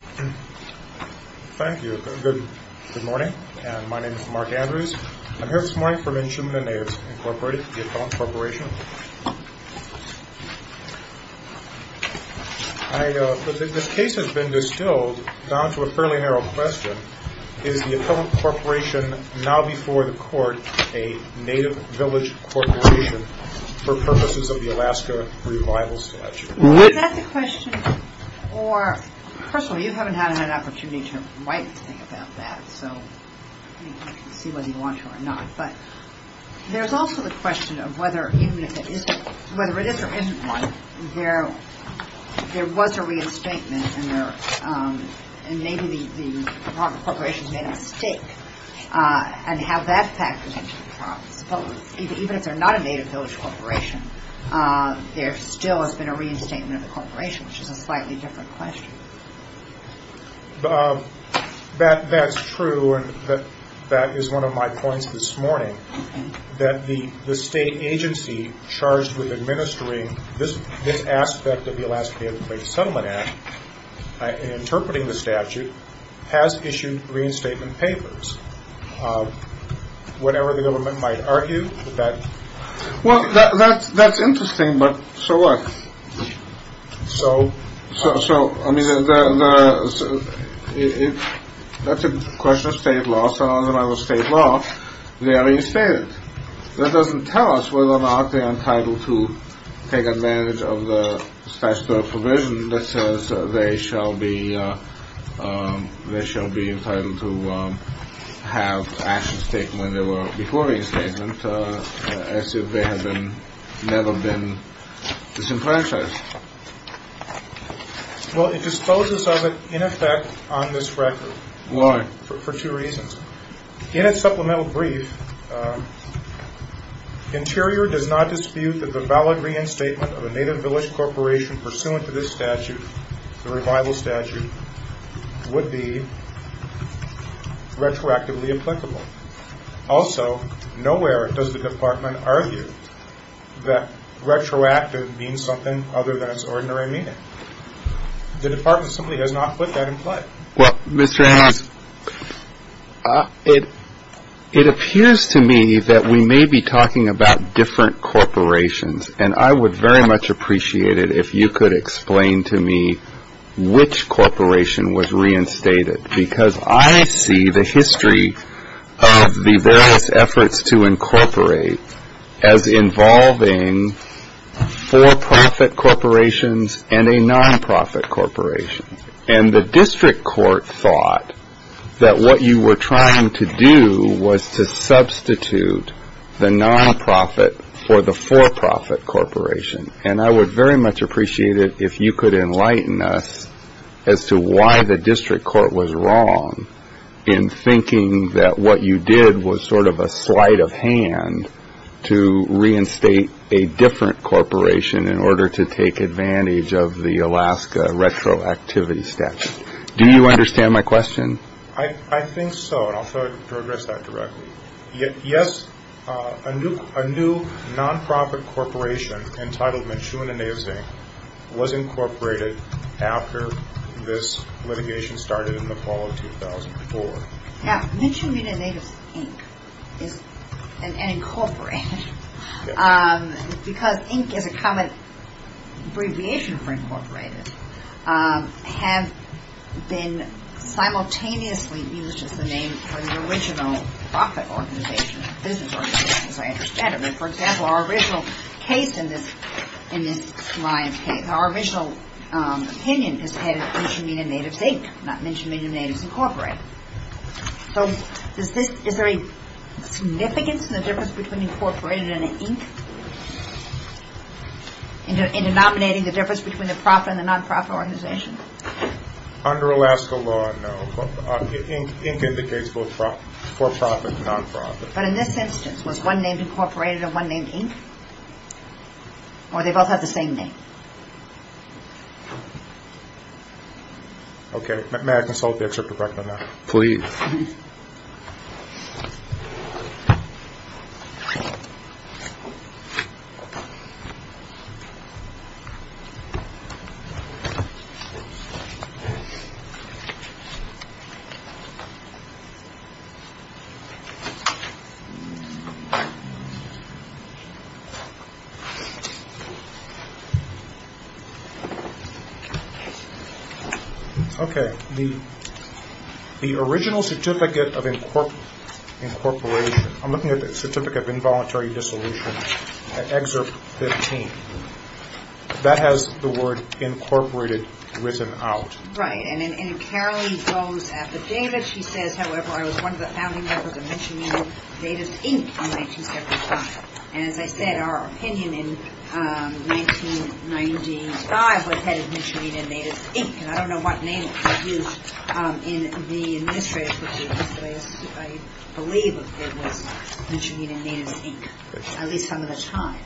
Thank you. Good morning. My name is Mark Andrews. I'm here this morning for Minchumina Natives, Incorporated, the Appellant Corporation. The case has been distilled down to a fairly narrow question. Is the Appellant Corporation, now before the Court, a native village corporation for purposes of the Alaska Revival Selection? Is that the question? Or, personally, you haven't had an opportunity to write anything about that, so you can see whether you want to or not. But there's also the question of whether, even if it isn't, whether it is or isn't one, there was a reinstatement, and maybe the corporation made a mistake, and how that factors into the problem. Even if they're not a native village corporation, there still has been a reinstatement of the corporation, which is a slightly different question. That's true, and that is one of my points this morning, that the state agency charged with administering this aspect of the Alaska Native Places Settlement Act, interpreting the statute, has issued reinstatement papers, whatever the government might argue. Well, that's interesting, but so what? So? So, I mean, that's a question of state law, so under the state law, they are reinstated. That doesn't tell us whether or not they're entitled to take advantage of the statute of provision that says they shall be entitled to have actions taken when they were before reinstatement, as if they had never been disenfranchised. Well, it disposes of it, in effect, on this record. Why? In its supplemental brief, Interior does not dispute that the valid reinstatement of a native village corporation pursuant to this statute, the revival statute, would be retroactively applicable. Also, nowhere does the Department argue that retroactive means something other than its ordinary meaning. The Department simply does not put that in play. Well, Mr. Hans, it appears to me that we may be talking about different corporations, and I would very much appreciate it if you could explain to me which corporation was reinstated, because I see the history of the various efforts to incorporate as involving for-profit corporations and a non-profit corporation. And the district court thought that what you were trying to do was to substitute the non-profit for the for-profit corporation. And I would very much appreciate it if you could enlighten us as to why the district court was wrong in thinking that what you did was sort of a sleight of hand to reinstate a different corporation in order to take advantage of the Alaska retroactivity statute. Do you understand my question? I think so, and I'll try to address that directly. Yes, a new non-profit corporation entitled Michoud and Natives Inc. was incorporated after this litigation started in the fall of 2004. Now, Michoud and Natives Inc. and Incorporated, because Inc. is a common abbreviation for Incorporated, have been simultaneously used as the name for the original profit organization, business organization, as I understand it. For example, our original opinion is that it was Michoud and Natives Inc., not Michoud and Natives Incorporated. So is there a significance in the difference between Incorporated and Inc., in denominating the difference between the profit and the non-profit organization? Under Alaska law, no. Inc. indicates both for-profit and non-profit. But in this instance, was one named Incorporated and one named Inc., or do they both have the same name? Okay, may I consult with you, Mr. Breckner? Please. Okay, the original Certificate of Incorporation, I'm looking at the Certificate of Involuntary Dissolution, Excerpt 15. That has the word Incorporated written out. Right, and it clearly goes at the data. She says, however, I was one of the founding members of Michoud and Natives Inc. in 1975. And as I said, our opinion in 1995 was headed Michoud and Natives Inc., and I don't know what name was used in the administrative procedure, but I believe it was Michoud and Natives Inc., at least some of the time.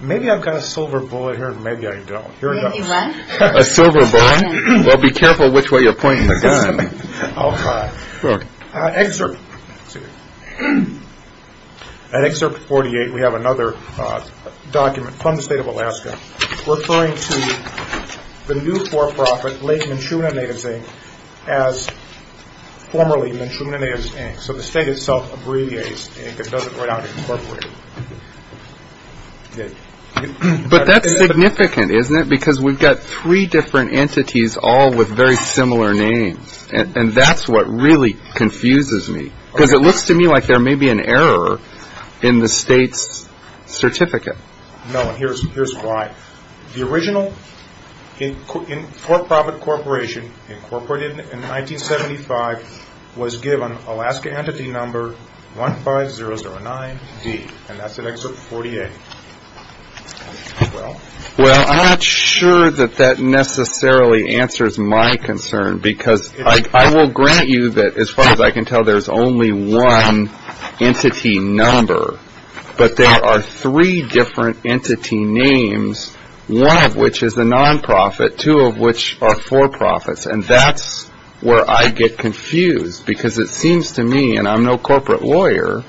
Maybe I've got a silver bullet here, maybe I don't. Here it goes. A silver bullet? Well, be careful which way you're pointing the gun. Excerpt 48, we have another document from the state of Alaska referring to the new for-profit, late Michoud and Natives Inc., as formerly Michoud and Natives Inc., so the state itself abbreviates Inc., it doesn't write out Incorporated. But that's significant, isn't it, because we've got three different entities all with very similar names, and that's what really confuses me, because it looks to me like there may be an error in the state's certificate. No, and here's why. The original for-profit corporation incorporated in 1975 was given Alaska Entity Number 15009D, and that's in Excerpt 48. Well, I'm not sure that that necessarily answers my concern, because I will grant you that as far as I can tell there's only one entity number, but there are three different entity names, one of which is the non-profit, two of which are for-profits, and that's where I get confused, because it seems to me, and I'm no corporate lawyer,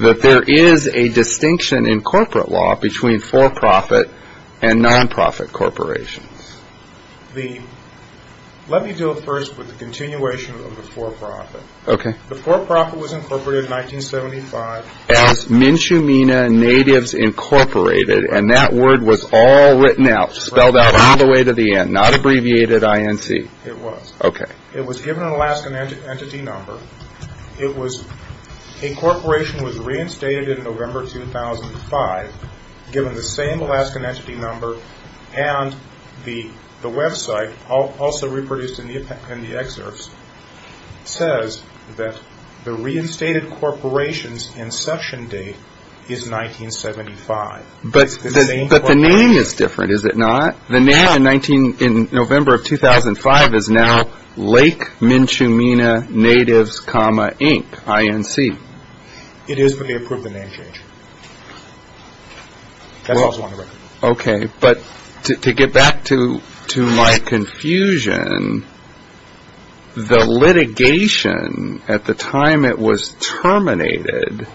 that there is a distinction in corporate law between for-profit and non-profit corporations. Let me deal first with the continuation of the for-profit. Okay. The for-profit was incorporated in 1975. As MnChumina Natives Incorporated, and that word was all written out, spelled out all the way to the end, not abbreviated INC. It was. Okay. It was given an Alaskan Entity Number. Incorporation was reinstated in November 2005, given the same Alaskan Entity Number, and the website, also reproduced in the excerpts, says that the reinstated corporation's inception date is 1975. But the name is different, is it not? The name in November of 2005 is now Lake MnChumina Natives, Inc., I-N-C. It is, but they approved the name change. That's what I was wondering about. Okay. But to get back to my confusion, the litigation, at the time it was terminated,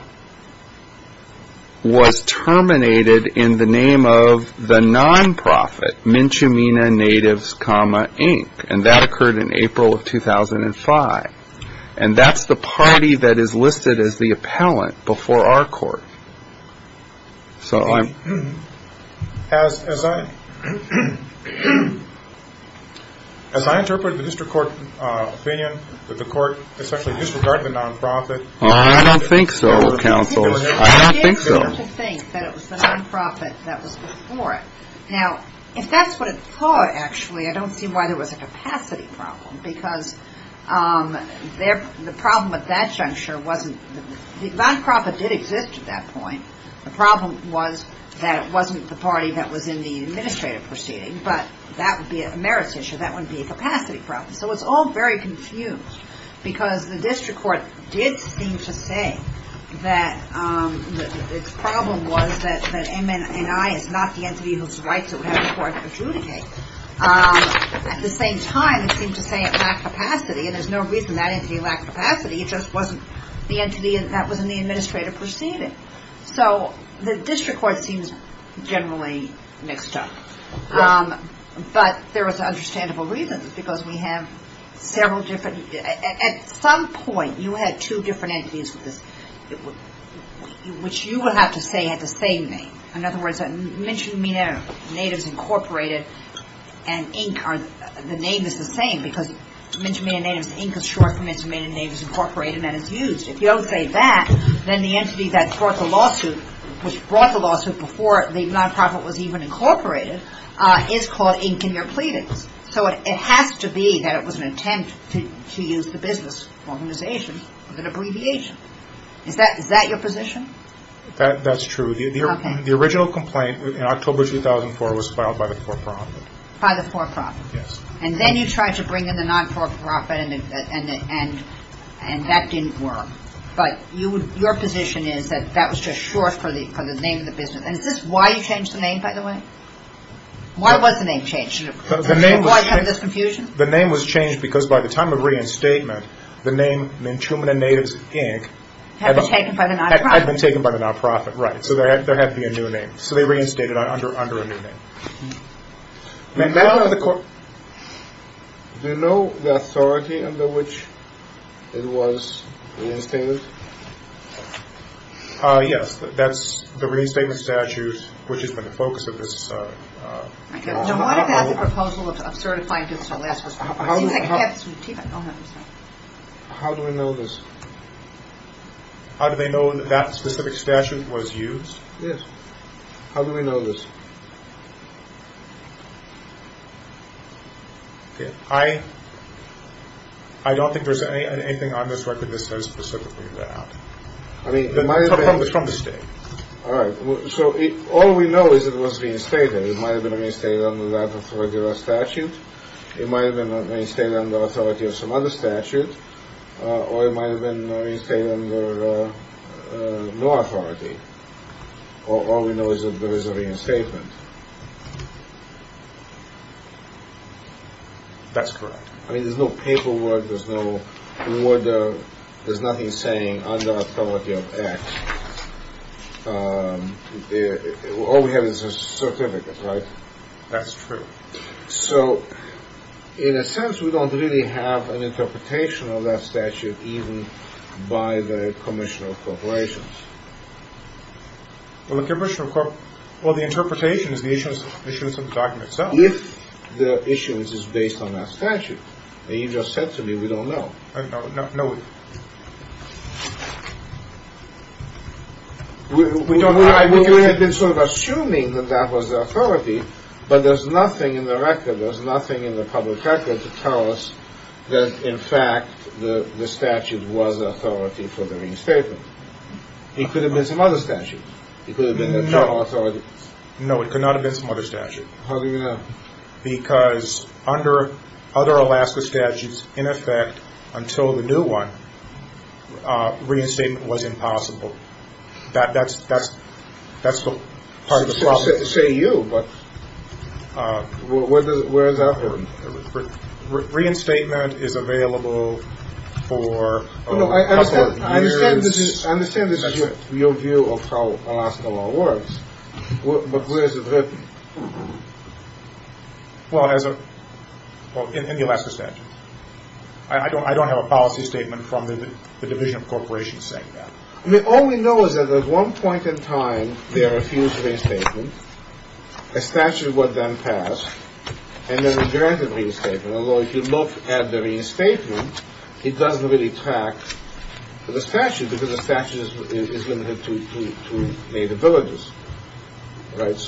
was terminated in the name of the non-profit, MnChumina Natives, Inc., and that occurred in April of 2005. And that's the party that is listed as the appellant before our court. So I'm — As I interpreted the district court opinion that the court, especially disregarding the non-profit — I don't think so, counsel. I don't think so. It's different to think that it was the non-profit that was before it. Now, if that's what it thought, actually, I don't see why there was a capacity problem, because the problem at that juncture wasn't — the non-profit did exist at that point. The problem was that it wasn't the party that was in the administrative proceeding, but that would be a merits issue. That wouldn't be a capacity problem. So it's all very confused, because the district court did seem to say that its problem was that MNI is not the entity whose rights it would have the court to adjudicate. At the same time, it seemed to say it lacked capacity, and there's no reason that entity lacked capacity. It just wasn't the entity that was in the administrative proceeding. So the district court seems generally mixed up. But there was an understandable reason, because we have several different — at some point, you had two different entities, which you would have to say had the same name. In other words, MNI, Natives Incorporated, and Inc. are — the name is the same, because MNI Inc. is short for MNI Incorporated, and it's used. If you don't say that, then the entity that brought the lawsuit, which brought the lawsuit before the non-profit was even incorporated, is called Inc. in your pleadings. So it has to be that it was an attempt to use the business organization as an abbreviation. Is that your position? That's true. The original complaint in October 2004 was filed by the for-profit. By the for-profit. Yes. And then you tried to bring in the non-for-profit, and that didn't work. But your position is that that was just short for the name of the business. And is this why you changed the name, by the way? Why was the name changed? The name was changed because by the time of reinstatement, the name MNI Inc. Had been taken by the non-profit. Had been taken by the non-profit, right. So there had to be a new name. So they reinstated it under a new name. Do you know the authority under which it was reinstated? Yes. That's the reinstatement statute, which has been the focus of this law. So what about the proposal of certifying against the last response? How do we know this? How do they know that that specific statute was used? Yes. How do we know this? I don't think there's anything on this record that says specifically that. It's from the state. All right. So all we know is it was reinstated. It might have been reinstated under that particular statute. It might have been reinstated under authority of some other statute. Or it might have been reinstated under no authority. All we know is that there is a reinstatement. That's correct. I mean, there's no paperwork. There's nothing saying under authority of X. All we have is a certificate, right? That's true. So in a sense, we don't really have an interpretation of that statute even by the Commissioner of Corporations. Well, the interpretation is the issuance of the document itself. The issuance is based on that statute. You just said to me we don't know. We had been sort of assuming that that was the authority, but there's nothing in the record, there's nothing in the public record to tell us that, in fact, the statute was authority for the reinstatement. It could have been some other statute. It could have been a federal authority. No, it could not have been some other statute. How do you know? Because under other Alaska statutes, in effect, until the new one, reinstatement was impossible. That's part of the problem. I was about to say you, but where is that from? Reinstatement is available for a couple of years. I understand this is your view of how Alaska law works, but where is it written? Well, in the Alaska statute. I don't have a policy statement from the Division of Corporations saying that. All we know is that at one point in time they refused reinstatement. A statute was then passed, and then they granted reinstatement, although if you look at the reinstatement, it doesn't really track the statute because the statute is limited to native villages.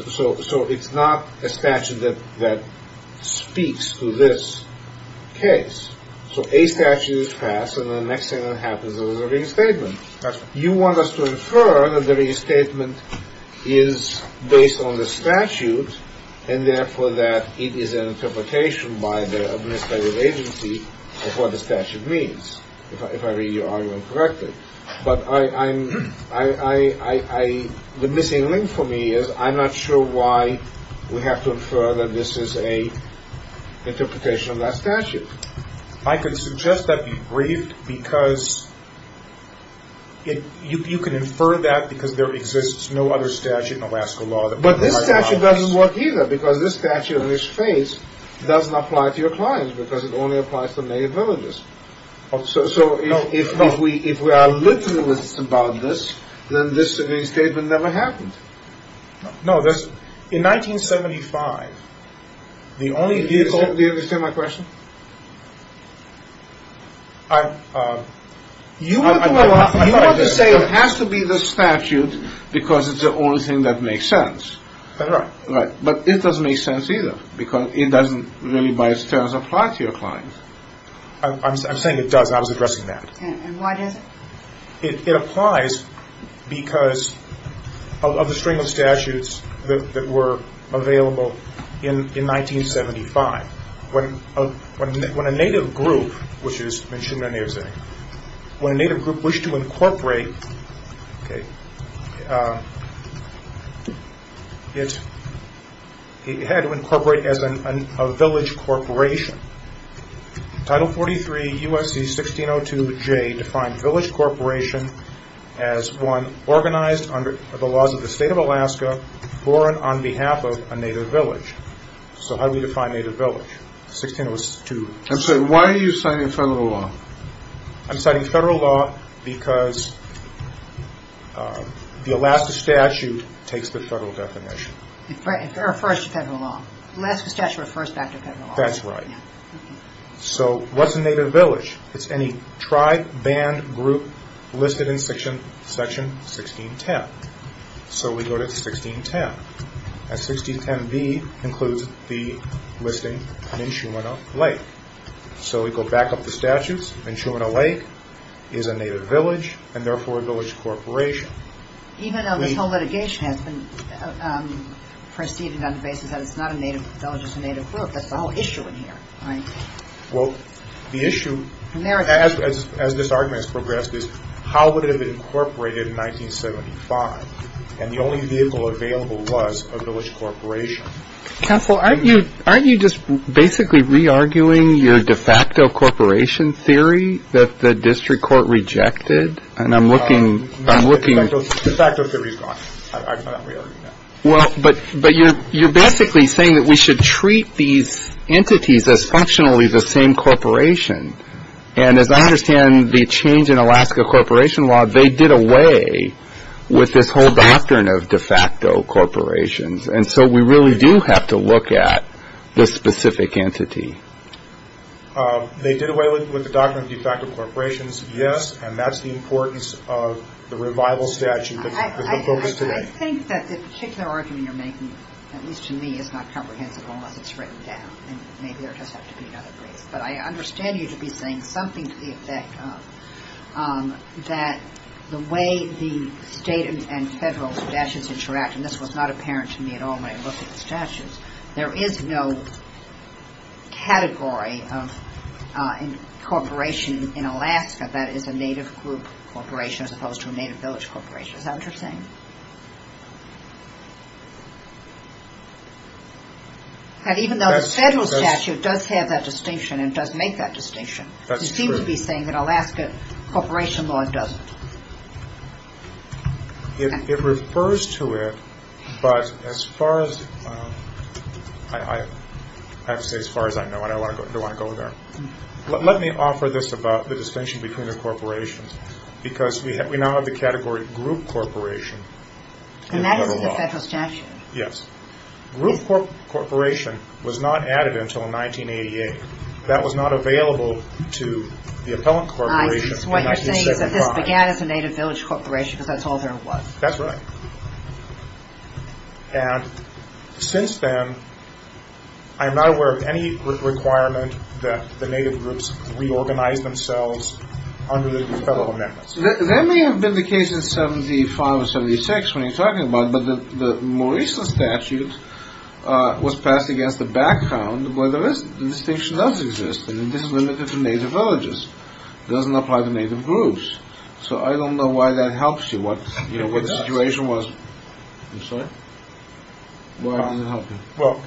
So it's not a statute that speaks to this case. So a statute is passed, and the next thing that happens is a reinstatement. You want us to infer that the reinstatement is based on the statute, and therefore that it is an interpretation by the administrative agency of what the statute means, if I read your argument correctly. But the missing link for me is I'm not sure why we have to infer that this is an interpretation of that statute. I could suggest that be briefed because you can infer that because there exists no other statute in Alaska law. But this statute doesn't work either because this statute in this case doesn't apply to your clients because it only applies to native villages. So if we are literalists about this, then this reinstatement never happened. No, in 1975, the only vehicle... Do you understand my question? You want to say it has to be the statute because it's the only thing that makes sense. That's right. But it doesn't make sense either because it doesn't really by its terms apply to your clients. I'm saying it does. I was addressing that. And why does it? It applies because of the string of statutes that were available in 1975. When a native group, which is Mnchumna Ne'ezek, when a native group wished to incorporate... It had to incorporate as a village corporation. Title 43 U.S.C. 1602J defined village corporation as one organized under the laws of the state of Alaska for and on behalf of a native village. So how do we define native village? 1602... I'm sorry, why are you citing federal law? I'm citing federal law because the Alaska statute takes the federal definition. It refers to federal law. Alaska statute refers back to federal law. That's right. So what's a native village? It's any tribe, band, group listed in section 1610. So we go to 1610. And 1610B includes the listing Mnchumna Lake. So we go back up the statutes. Mnchumna Lake is a native village, and therefore a village corporation. Even though this whole litigation has been preceded on the basis that it's not a native village, it's a native group, that's the whole issue in here, right? Well, the issue, as this argument has progressed, is how would it have been incorporated in 1975? And the only vehicle available was a village corporation. Counsel, aren't you just basically re-arguing your de facto corporation theory that the district court rejected? And I'm looking... De facto theory is gone. I'm not re-arguing that. Well, but you're basically saying that we should treat these entities as functionally the same corporation. And as I understand the change in Alaska corporation law, they did away with this whole doctrine of de facto corporations. And so we really do have to look at the specific entity. They did away with the doctrine of de facto corporations, yes. And that's the importance of the revival statute that's been focused today. I think that the particular argument you're making, at least to me, is not comprehensible unless it's written down. And maybe there does have to be another reason. But I understand you to be saying something to the effect that the way the state and federal statutes interact, and this was not apparent to me at all when I looked at the statutes, there is no category of corporation in Alaska that is a native group corporation as opposed to a native village corporation. Is that what you're saying? Even though the federal statute does have that distinction and does make that distinction. That's true. You seem to be saying that Alaska corporation law doesn't. It refers to it, but as far as, I have to say as far as I know, I don't want to go there. Let me offer this about the distinction between the corporations. Because we now have the category group corporation. And that is the federal statute. Yes. Group corporation was not added until 1988. That was not available to the appellant corporation in 1975. So what you're saying is that this began as a native village corporation because that's all there was. That's right. And since then, I'm not aware of any requirement that the native groups reorganize themselves under the federal amendments. That may have been the case in 75 or 76 when you're talking about it, but the more recent statute was passed against the background where the distinction does exist. And this is limited to native villages. It doesn't apply to native groups. So I don't know why that helps you. What the situation was. I'm sorry. Why does it help you? Well,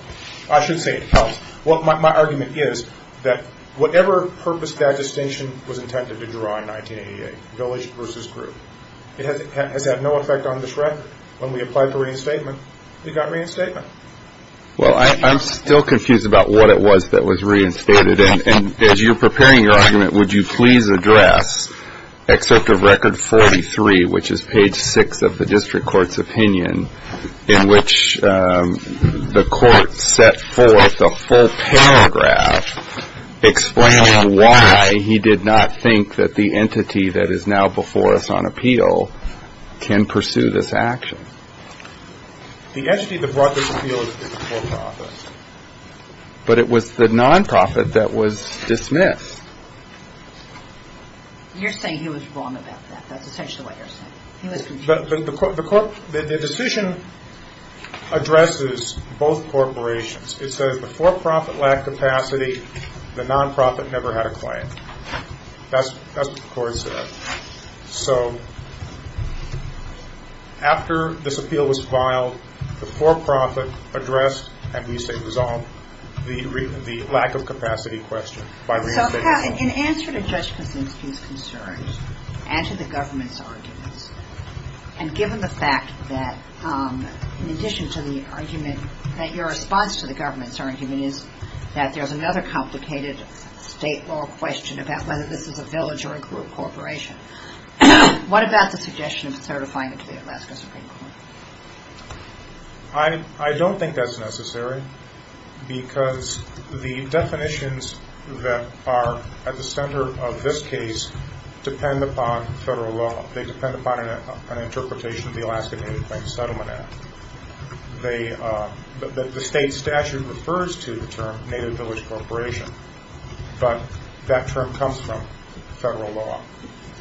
I should say it helps. Well, my argument is that whatever purpose that distinction was intended to draw in 1988, village versus group, it has had no effect on this record. When we applied for reinstatement, it got reinstated. Well, I'm still confused about what it was that was reinstated. And as you're preparing your argument, would you please address Excerpt of Record 43, which is page 6 of the district court's opinion, in which the court set forth a full paragraph explaining why he did not think that the entity that is now before us on appeal can pursue this action. The entity that brought this appeal is the court office. But it was the nonprofit that was dismissed. You're saying he was wrong about that. That's essentially what you're saying. The decision addresses both corporations. It says the for-profit lacked capacity. The nonprofit never had a claim. That's what the court said. So after this appeal was filed, the for-profit addressed, and we say resolved, the lack of capacity question by reinstatement. So in answer to Judge Kuczynski's concerns and to the government's arguments, and given the fact that in addition to the argument that your response to the government's argument is that there's another complicated state law question about whether this is a village or a group corporation, what about the suggestion of certifying it to the Alaska Supreme Court? I don't think that's necessary because the definitions that are at the center of this case depend upon federal law. They depend upon an interpretation of the Alaska Native Claims Settlement Act. The state statute refers to the term native village corporation, but that term comes from federal law.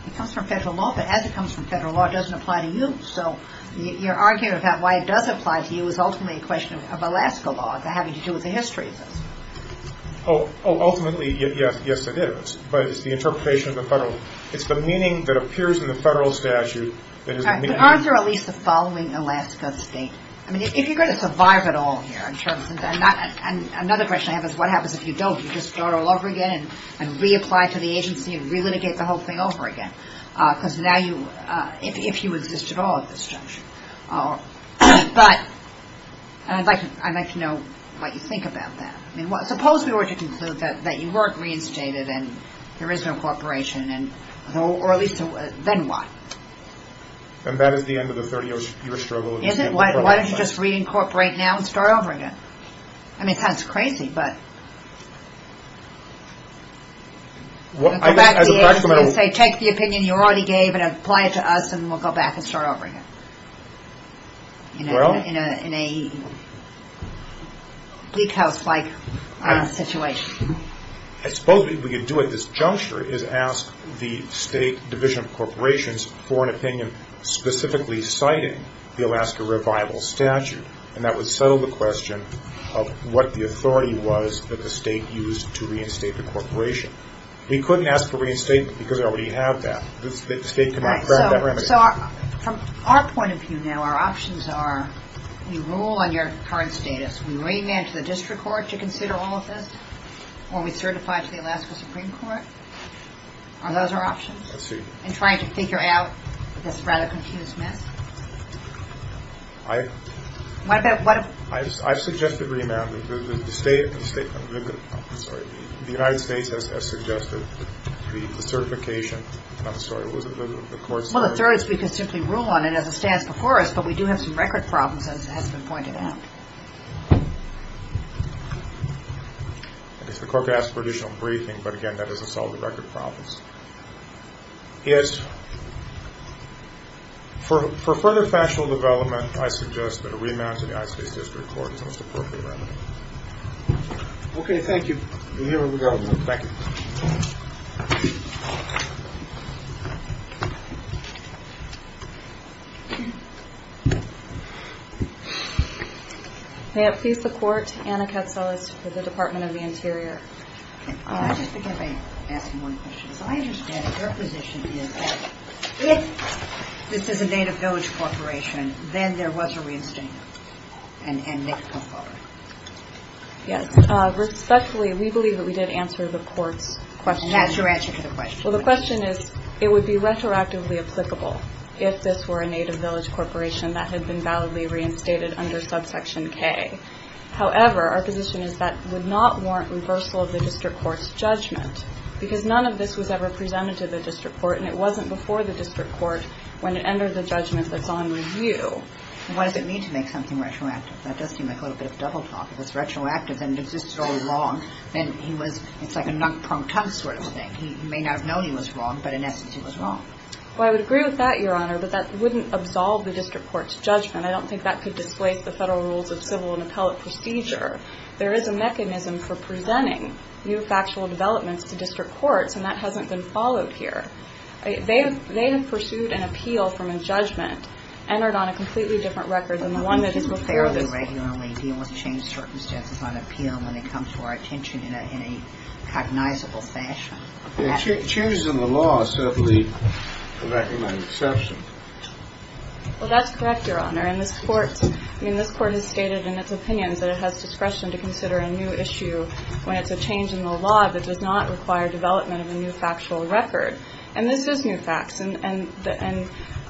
It comes from federal law, but as it comes from federal law, it doesn't apply to you. So your argument about why it does apply to you is ultimately a question of Alaska law. It's not having to do with the history of this. Ultimately, yes, it is, but it's the interpretation of the federal. It's the meaning that appears in the federal statute. But aren't there at least the following Alaska state? I mean, if you're going to survive at all here, and another question I have is what happens if you don't? You just start all over again and reapply to the agency and relitigate the whole thing over again, because now you, if you exist at all at this juncture. But I'd like to know what you think about that. I mean, suppose we were to conclude that you weren't reinstated and there is no corporation, or at least, then what? And that is the end of the 30-year struggle. Why don't you just reincorporate now and start over again? I mean, it sounds crazy, but take the opinion you already gave and apply it to us, and we'll go back and start over again in a geek house-like situation. I suppose what we could do at this juncture is ask the State Division of Corporations for an opinion specifically citing the Alaska Revival Statute, and that would settle the question of what the authority was that the state used to reinstate the corporation. We couldn't ask for reinstatement because we already have that. The state cannot grant that remedy. So from our point of view now, our options are you rule on your current status. We remand to the district court to consider all of this, or we certify to the Alaska Supreme Court. Are those our options? Let's see. In trying to figure out this rather confused mess? I've suggested remand. The United States has suggested the certification. I'm sorry, was it the court's decision? Well, the third is we could simply rule on it as it stands before us, but we do have some record problems as has been pointed out. I guess the court could ask for additional briefing, but again, that doesn't solve the record problems. Yes. For further factual development, I suggest that a remand to the United States District Court is the most appropriate remedy. Okay. Thank you. Here we go. Thank you. May it please the court, Anna Katsalas for the Department of the Interior. I just began by asking one question. So I understand your position is that if this is a native village corporation, then there was a reinstatement and they could come forward. Yes. Respectfully, we believe that we did answer the court's question. That's your answer to the question. Well, the question is it would be retroactively applicable if this were a native village corporation that had been validly reinstated under subsection K. However, our position is that would not warrant reversal of the district court's judgment because none of this was ever presented to the district court and it wasn't before the district court when it entered the judgment that's on review. What does it mean to make something retroactive? That does seem like a little bit of double talk. If it's retroactive and it existed all along, then he was – it's like a knock, prong, tug sort of thing. He may not have known he was wrong, but in essence, he was wrong. Well, I would agree with that, Your Honor, but that wouldn't absolve the district court's judgment. I don't think that could displace the federal rules of civil and appellate procedure. There is a mechanism for presenting new factual developments to district courts and that hasn't been followed here. They have pursued an appeal from a judgment entered on a completely different record than the one that is before this. But we do fairly regularly deal with changed circumstances on appeal when it comes to our attention in a cognizable fashion. Changes in the law are certainly a recommended exception. Well, that's correct, Your Honor, and this court – I mean, this court has stated in its opinions that it has discretion to consider a new issue when it's a change in the law that does not require development of a new factual record. And this is new facts, and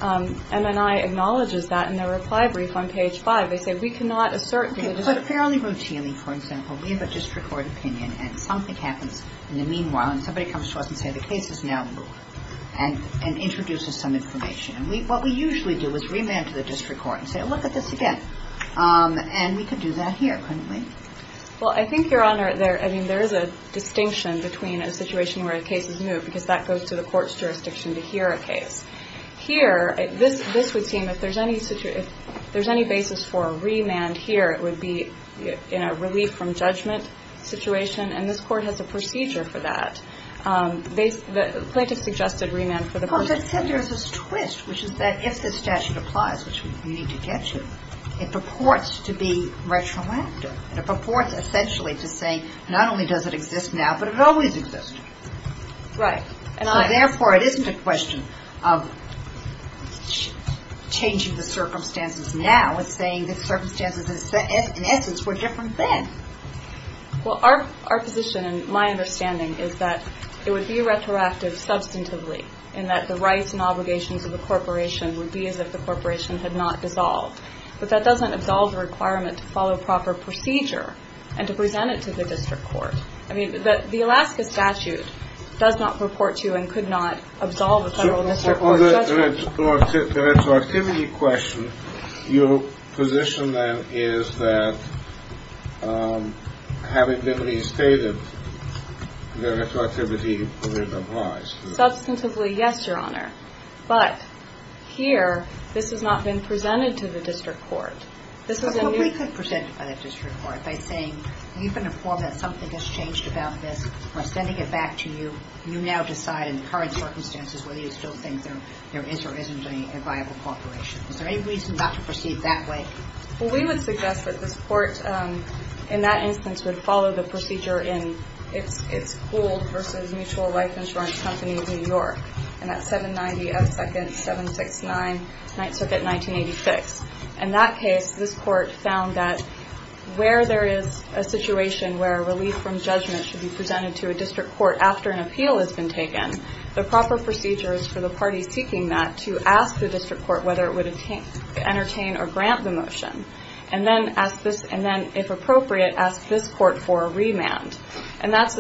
MNI acknowledges that in their reply brief on page 5. They say, we cannot assert – But fairly routinely, for example, we have a district court opinion and something happens in the meanwhile, and somebody comes to us and says, the case is now ruled, and introduces some information. And what we usually do is remand to the district court and say, look at this again. And we could do that here, couldn't we? Well, I think, Your Honor, there – I mean, there is a distinction between a situation where a case is new, because that goes to the court's jurisdiction to hear a case. Here, this would seem if there's any – if there's any basis for a remand here, it would be in a relief-from-judgment situation, and this court has a procedure for that. They – the plaintiff suggested remand for the person. Well, but then there's this twist, which is that if this statute applies, which we need to get to, it purports to be retroactive, and it purports essentially to say, not only does it exist now, but it always existed. Right. And therefore, it isn't a question of changing the circumstances now and saying the circumstances in essence were different then. Well, our position and my understanding is that it would be retroactive substantively, in that the rights and obligations of the corporation would be as if the corporation had not dissolved. But that doesn't absolve the requirement to follow proper procedure and to present it to the district court. I mean, the Alaska statute does not purport to and could not absolve a federal district court of judgment. The retroactivity question, your position then is that having been restated, the retroactivity wouldn't arise. Substantively, yes, Your Honor. But here, this has not been presented to the district court. But we could present it by the district court by saying, we've been informed that something has changed about this. We're sending it back to you. You now decide in the current circumstances whether you still think there is or isn't a viable corporation. Is there any reason not to proceed that way? Well, we would suggest that this court, in that instance, would follow the procedure in its pooled versus mutual life insurance company in New York. And that's 790 F. Second, 769, Ninth Circuit, 1986. In that case, this court found that where there is a situation where relief from judgment should be presented to a district court after an appeal has been taken, the proper procedure is for the parties seeking that to ask the district court whether it would entertain or grant the motion. And then, if appropriate, ask this court for a remand. And that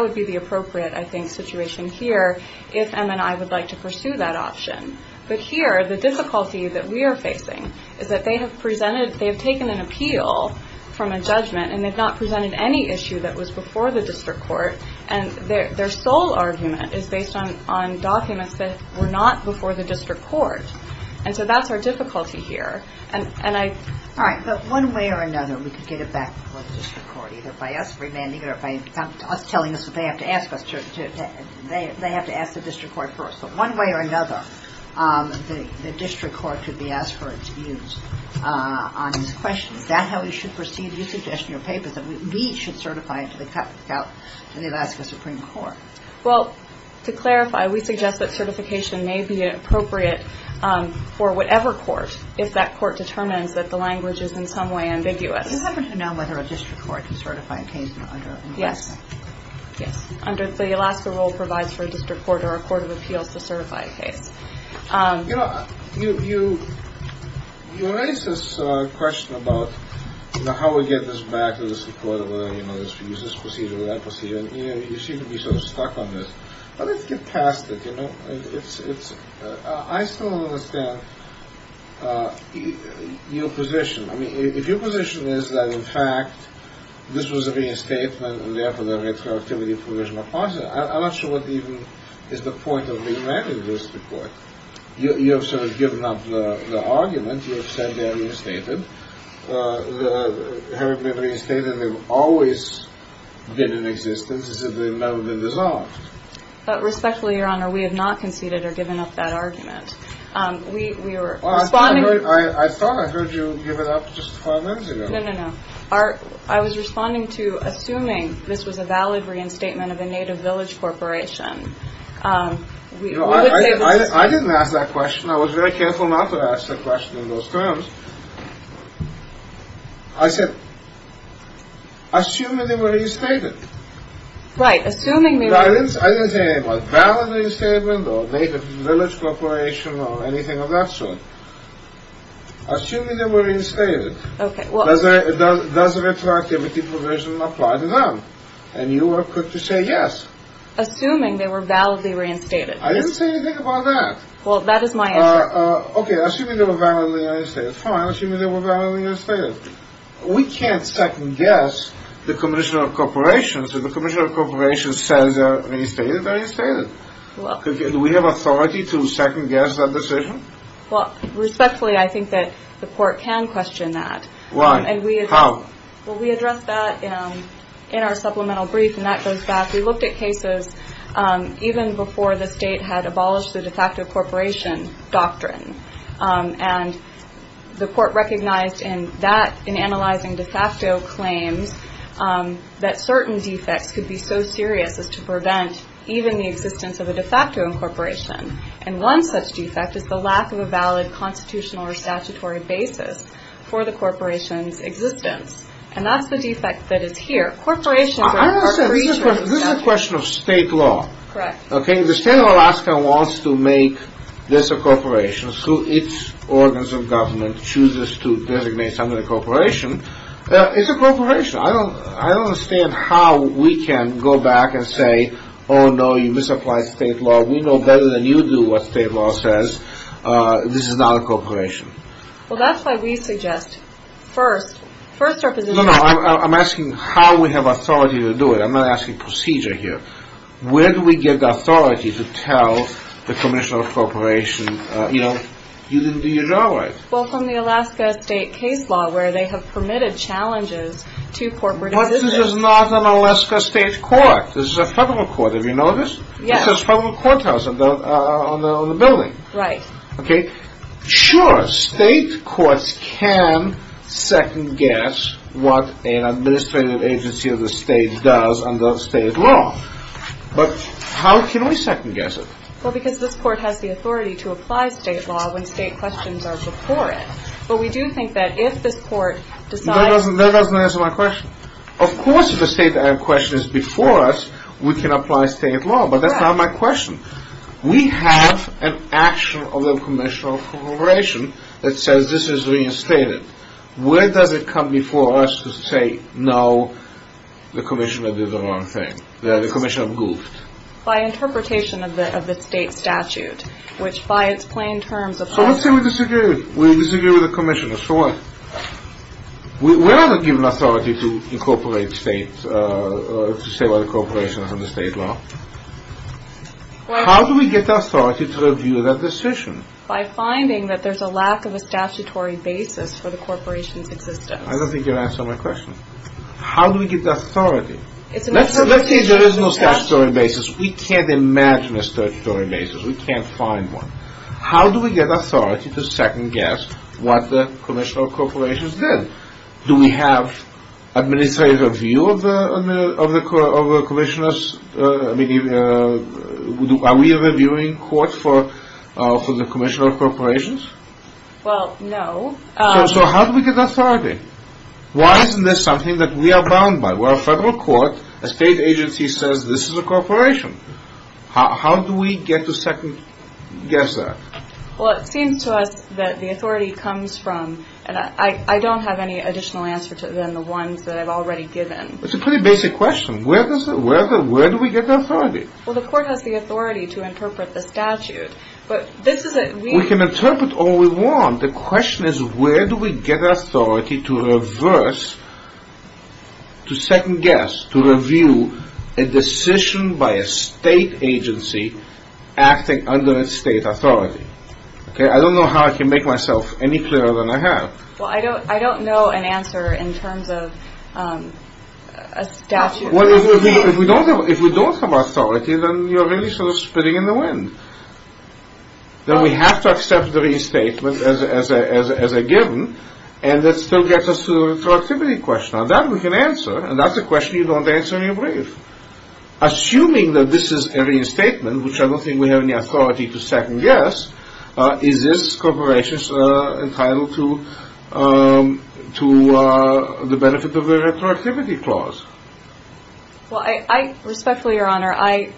would be the appropriate, I think, situation here if MNI would like to pursue that option. But here, the difficulty that we are facing is that they have taken an appeal from a judgment and they've not presented any issue that was before the district court. And their sole argument is based on documents that were not before the district court. And so that's our difficulty here. All right. But one way or another, we could get it back before the district court, either by us remanding it or by us telling us that they have to ask the district court first. But one way or another, the district court could be asked for its views on these questions. Is that how we should proceed? You suggest in your papers that we should certify it to the Alaska Supreme Court. Well, to clarify, we suggest that certification may be appropriate for whatever court, if that court determines that the language is in some way ambiguous. You happen to know whether a district court can certify a case under Alaska? Yes. Yes. Under the Alaska rule provides for a district court or a court of appeals to certify a case. You know, you raise this question about how we get this back to the Supreme Court, whether we use this procedure or that procedure. You seem to be sort of stuck on this. Let's get past it, you know. I still don't understand your position. I mean, if your position is that, in fact, this was a reinstatement, and therefore the retroactivity provision applies, I'm not sure what even is the point of remanding this district court. You have sort of given up the argument. You have said they are reinstated. They have been reinstated and they've always been in existence, as if they've never been dissolved. But respectfully, Your Honor, we have not conceded or given up that argument. I thought I heard you give it up just five minutes ago. No, no, no. I was responding to assuming this was a valid reinstatement of a native village corporation. I didn't ask that question. I was very careful not to ask that question in those terms. I said, assume that they were reinstated. Right, assuming they were. I didn't say anything like valid reinstatement or native village corporation or anything of that sort. Assuming they were reinstated. Okay, well. Does retroactivity provision apply to them? And you are quick to say yes. Assuming they were validly reinstated. I didn't say anything about that. Well, that is my interest. Okay, assuming they were validly reinstated. Fine, assuming they were validly reinstated. We can't second guess the commission of corporations. If the commission of corporations says they are reinstated, they are reinstated. Do we have authority to second guess that decision? Well, respectfully, I think that the court can question that. Why? How? Well, we addressed that in our supplemental brief, and that goes back. We looked at cases even before the state had abolished the de facto corporation doctrine. And the court recognized that in analyzing de facto claims, that certain defects could be so serious as to prevent even the existence of a de facto incorporation. And one such defect is the lack of a valid constitutional or statutory basis for the corporation's existence. And that's the defect that is here. I understand. This is a question of state law. Correct. Okay, if the state of Alaska wants to make this a corporation, so its organs of government chooses to designate something a corporation, it's a corporation. I don't understand how we can go back and say, oh, no, you misapplied state law. We know better than you do what state law says. This is not a corporation. Well, that's why we suggest first, first our position. No, no, I'm asking how we have authority to do it. I'm not asking procedure here. Where do we get the authority to tell the commissioner of a corporation, you know, you didn't do your job right? Well, from the Alaska state case law where they have permitted challenges to corporate existence. But this is not an Alaska state court. This is a federal court. Have you noticed? Yes. It says federal courthouse on the building. Right. Okay, sure, state courts can second guess what an administrative agency of the state does under state law. But how can we second guess it? Well, because this court has the authority to apply state law when state questions are before it. But we do think that if this court decides... That doesn't answer my question. Of course if a state question is before us, we can apply state law. But that's not my question. We have an action of the commissioner of a corporation that says this is reinstated. Where does it come before us to say, no, the commissioner did the wrong thing? The commissioner goofed. By interpretation of the state statute, which by its plain terms... So let's say we disagree with the commissioner. So what? We're not given authority to incorporate state, to say what a corporation is under state law. How do we get authority to review that decision? By finding that there's a lack of a statutory basis for the corporation's existence. I don't think you're answering my question. How do we get the authority? Let's say there is no statutory basis. We can't imagine a statutory basis. We can't find one. How do we get authority to second guess what the commissioner of a corporation did? Do we have administrative review of the commissioner's... Are we reviewing court for the commissioner of a corporation? Well, no. So how do we get authority? Why isn't this something that we are bound by? We're a federal court. A state agency says this is a corporation. How do we get to second guess that? Well, it seems to us that the authority comes from... And I don't have any additional answer to it than the ones that I've already given. It's a pretty basic question. Where do we get the authority? Well, the court has the authority to interpret the statute. But this is a... We can interpret all we want. The question is where do we get authority to reverse, to second guess, to review a decision by a state agency acting under a state authority? I don't know how I can make myself any clearer than I have. Well, I don't know an answer in terms of a statute. If we don't have authority, then you're really sort of spitting in the wind. Then we have to accept the reinstatement as a given. And that still gets us to the retroactivity question. Now, that we can answer. And that's a question you don't answer in your brief. Assuming that this is a reinstatement, which I don't think we have any authority to second guess, is this corporation entitled to the benefit of a retroactivity clause? Well, I respectfully, Your Honor, I...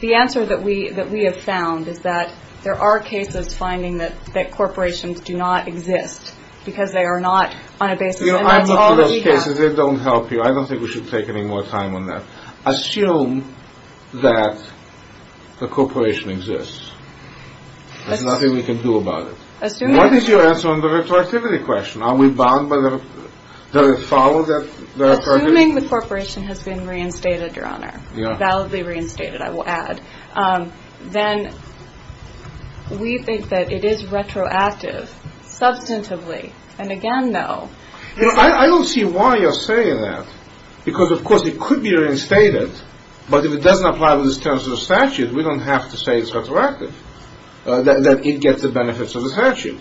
The answer that we have found is that there are cases finding that corporations do not exist because they are not on a basis... You know, I've looked at those cases. They don't help you. I don't think we should take any more time on that. Assume that the corporation exists. There's nothing we can do about it. Assuming... What is your answer on the retroactivity question? Are we bound by the... Assuming the corporation has been reinstated, Your Honor, validly reinstated, I will add, then we think that it is retroactive, substantively. And again, no. You know, I don't see why you're saying that. Because, of course, it could be reinstated. But if it doesn't apply to the terms of the statute, we don't have to say it's retroactive, that it gets the benefits of the statute.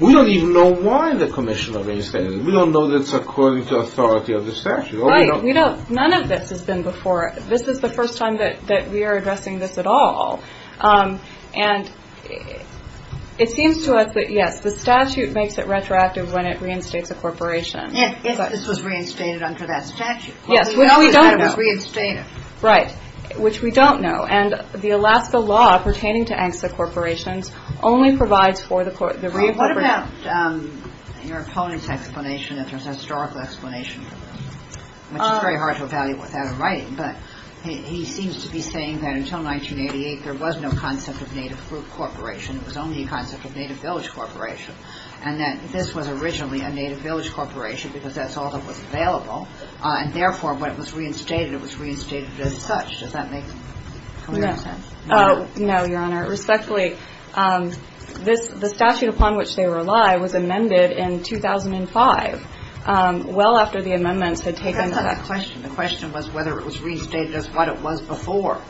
We don't even know why the commission reinstated it. We don't know that it's according to authority of the statute. Right. None of this has been before. This is the first time that we are addressing this at all. And it seems to us that, yes, the statute makes it retroactive when it reinstates a corporation. If this was reinstated under that statute. Yes, which we don't know. We know that it was reinstated. Right, which we don't know. And the Alaska law pertaining to ANCSA corporations only provides for the... Well, what about your opponent's explanation, if there's a historical explanation for this? Which is very hard to evaluate without a writing. But he seems to be saying that until 1988, there was no concept of native fruit corporation. It was only a concept of native village corporation. And that this was originally a native village corporation because that's all that was available. And therefore, when it was reinstated, it was reinstated as such. Does that make sense? No, Your Honor. Respectfully, the statute upon which they rely was amended in 2005, well after the amendments had taken effect. The question was whether it was restated as what it was before.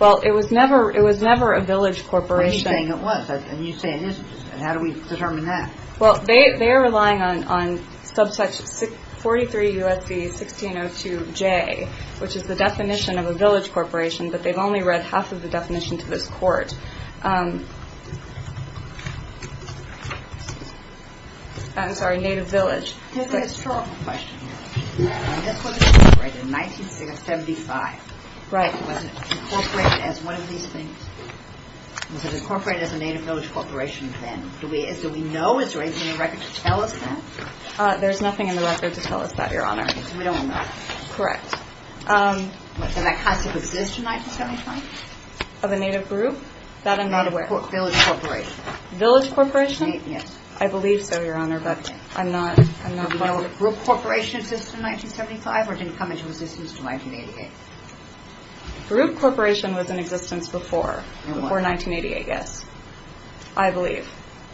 Well, it was never a village corporation. You're saying it was, and you say it isn't. How do we determine that? Well, they are relying on 43 U.S.C. 1602J, which is the definition of a village corporation, but they've only read half of the definition to this court. I'm sorry, native village. Here's a historical question. This was incorporated in 1975. Right. Was it incorporated as one of these things? Was it incorporated as a native village corporation then? Do we know? Is there anything in the record to tell us that? There's nothing in the record to tell us that, Your Honor. We don't know. Correct. And that has to exist in 1975? Of a native group? That I'm not aware of. Village corporation. Village corporation? Yes. I believe so, Your Honor, but I'm not well aware. Did group corporation exist in 1975 or did it come into existence in 1988? Group corporation was in existence before, before 1988, yes, I believe.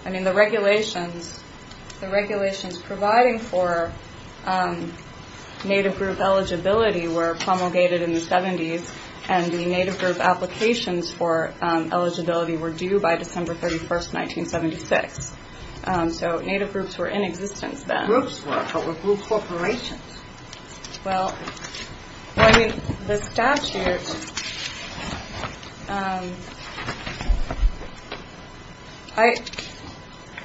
I mean, the regulations, the regulations providing for native group eligibility were promulgated in the 70s, and the native group applications for eligibility were due by December 31st, 1976. So native groups were in existence then. Groups were, but were group corporations. Well, I mean, the statute,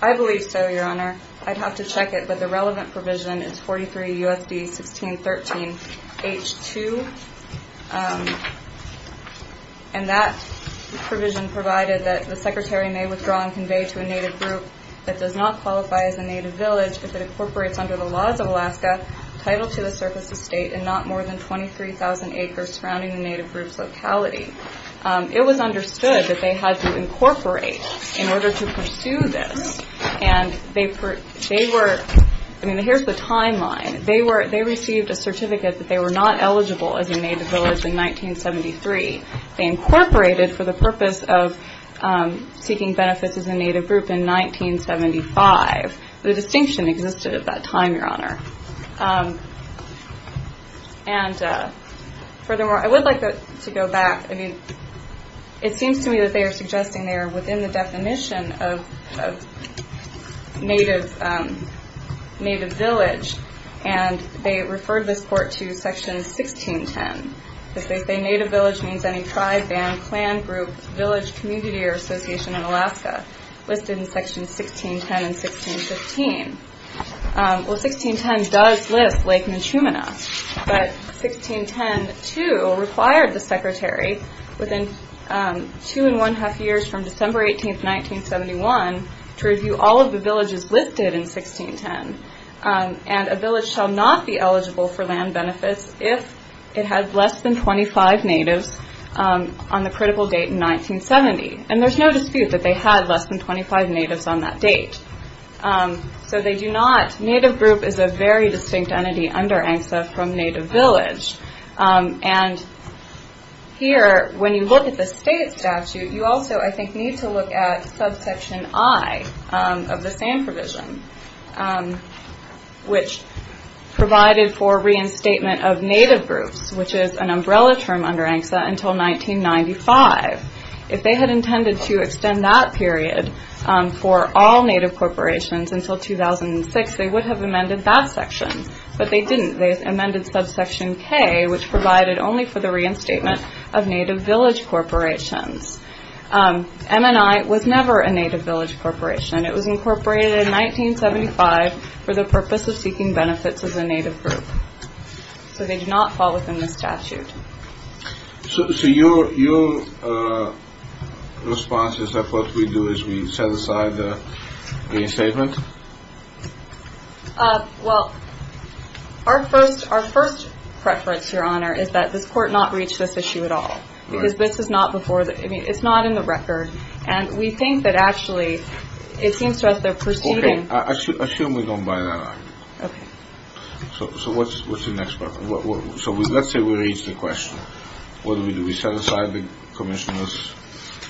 I believe so, Your Honor. I'd have to check it, but the relevant provision is 43 USD 1613 H2, and that provision provided that the secretary may withdraw and convey to a native group that does not qualify as a native village if it incorporates under the laws of Alaska, title to the surface of state, and not more than 23,000 acres surrounding the native group's locality. It was understood that they had to incorporate in order to pursue this, and they were, I mean, here's the timeline. They received a certificate that they were not eligible as a native village in 1973. They incorporated for the purpose of seeking benefits as a native group in 1975. The distinction existed at that time, Your Honor. And furthermore, I would like to go back. I mean, it seems to me that they are suggesting they are within the definition of native village, and they referred this court to Section 1610, because they say native village means any tribe, band, clan, group, village, community, or association in Alaska listed in Section 1610 and 1615. Well, 1610 does list Lake Mechumena, but 1610 too required the secretary, within two and one-half years from December 18, 1971, to review all of the villages listed in 1610, and a village shall not be eligible for land benefits if it had less than 25 natives on the critical date in 1970. And there's no dispute that they had less than 25 natives on that date. So they do not, native group is a very distinct entity under ANCSA from native village. And here, when you look at the state statute, you also, I think, need to look at subsection I of the SAM provision. Which provided for reinstatement of native groups, which is an umbrella term under ANCSA, until 1995. If they had intended to extend that period for all native corporations until 2006, they would have amended that section, but they didn't. They amended subsection K, which provided only for the reinstatement of native village corporations. MNI was never a native village corporation. It was incorporated in 1975 for the purpose of seeking benefits of the native group. So they do not fall within the statute. So your response is that what we do is we set aside the reinstatement? Well, our first preference, Your Honor, is that this court not reach this issue at all. Because this is not before, I mean, it's not in the record. And we think that actually it seems to us they're proceeding. Okay. I assume we don't buy that argument. Okay. So what's the next preference? So let's say we reach the question. What do we do? We set aside the commissioner's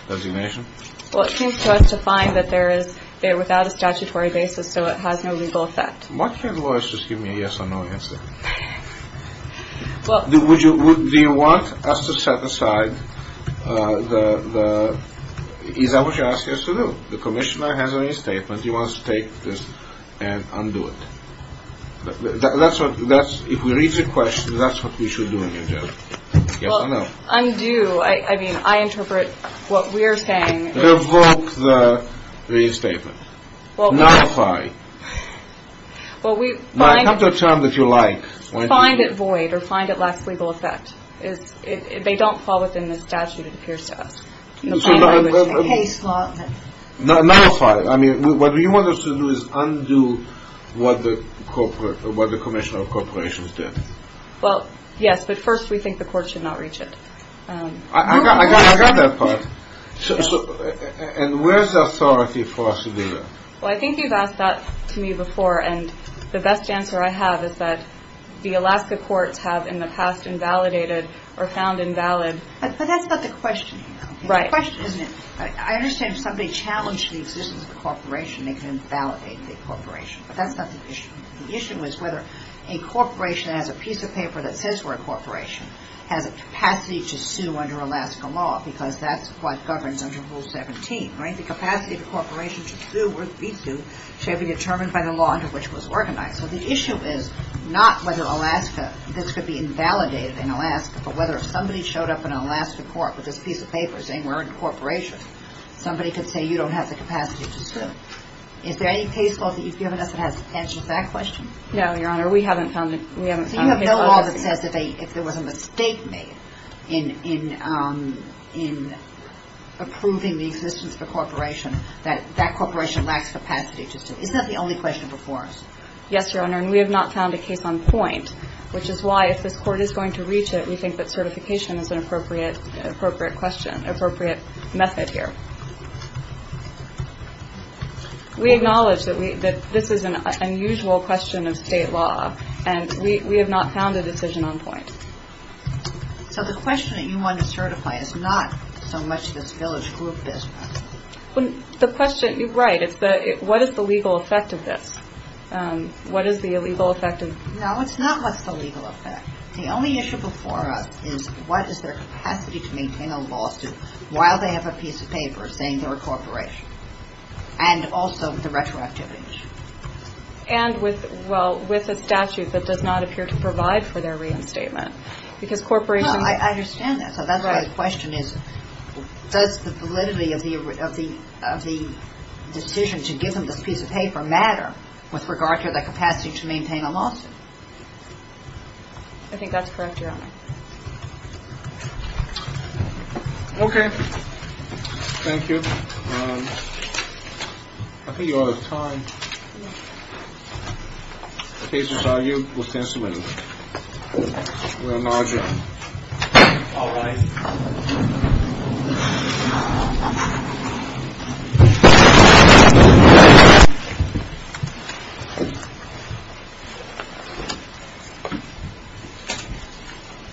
designation? Well, it seems to us to find that they're without a statutory basis, so it has no legal effect. Why can't lawyers just give me a yes or no answer? Do you want us to set aside the, is that what you're asking us to do? The commissioner has a reinstatement. He wants to take this and undo it. That's what, if we reach the question, that's what we should do in your judgment. Yes or no? Well, undo, I mean, I interpret what we're saying. Revoke the reinstatement. Notify. Well, we find it void or find it lacks legal effect. They don't fall within the statute, it appears to us. Notify. I mean, what you want us to do is undo what the commissioner of corporations did. Well, yes, but first we think the court should not reach it. I got that part. And where's the authority for us to do that? Well, I think you've asked that to me before, and the best answer I have is that the Alaska courts have in the past invalidated or found invalid. But that's not the question. Right. It's a question, isn't it? I understand if somebody challenged the existence of a corporation, they can invalidate the corporation, but that's not the issue. The issue is whether a corporation has a piece of paper that says we're a corporation, has a capacity to sue under Alaska law because that's what governs under Rule 17, right? The capacity of the corporation to sue or be sued shall be determined by the law under which it was organized. So the issue is not whether Alaska, this could be invalidated in Alaska, but whether if somebody showed up in an Alaska court with this piece of paper saying we're a corporation, somebody could say you don't have the capacity to sue. Is there any case law that you've given us that has answered that question? No, Your Honor. We haven't found it. So you have no law that says if there was a mistake made in approving the existence of a corporation, that that corporation lacks capacity to sue. Isn't that the only question before us? Yes, Your Honor, and we have not found a case on point, which is why if this Court is going to reach it, we think that certification is an appropriate question, appropriate method here. We acknowledge that this is an unusual question of state law, and we have not found a decision on point. So the question that you want to certify is not so much this village group business. The question, right, is what is the legal effect of this? What is the illegal effect of this? No, it's not what's the legal effect. The only issue before us is what is their capacity to maintain a lawsuit while they have a piece of paper, saying they're a corporation, and also the retroactivity issue. And with, well, with a statute that does not appear to provide for their reinstatement, because corporations. No, I understand that. So that's why the question is does the validity of the decision to give them this piece of paper matter with regard to their capacity to maintain a lawsuit? I think that's correct, Your Honor. Okay. Thank you. I think you're out of time. The case is argued with testimony. We acknowledge that. All rise. The case is argued with testimony.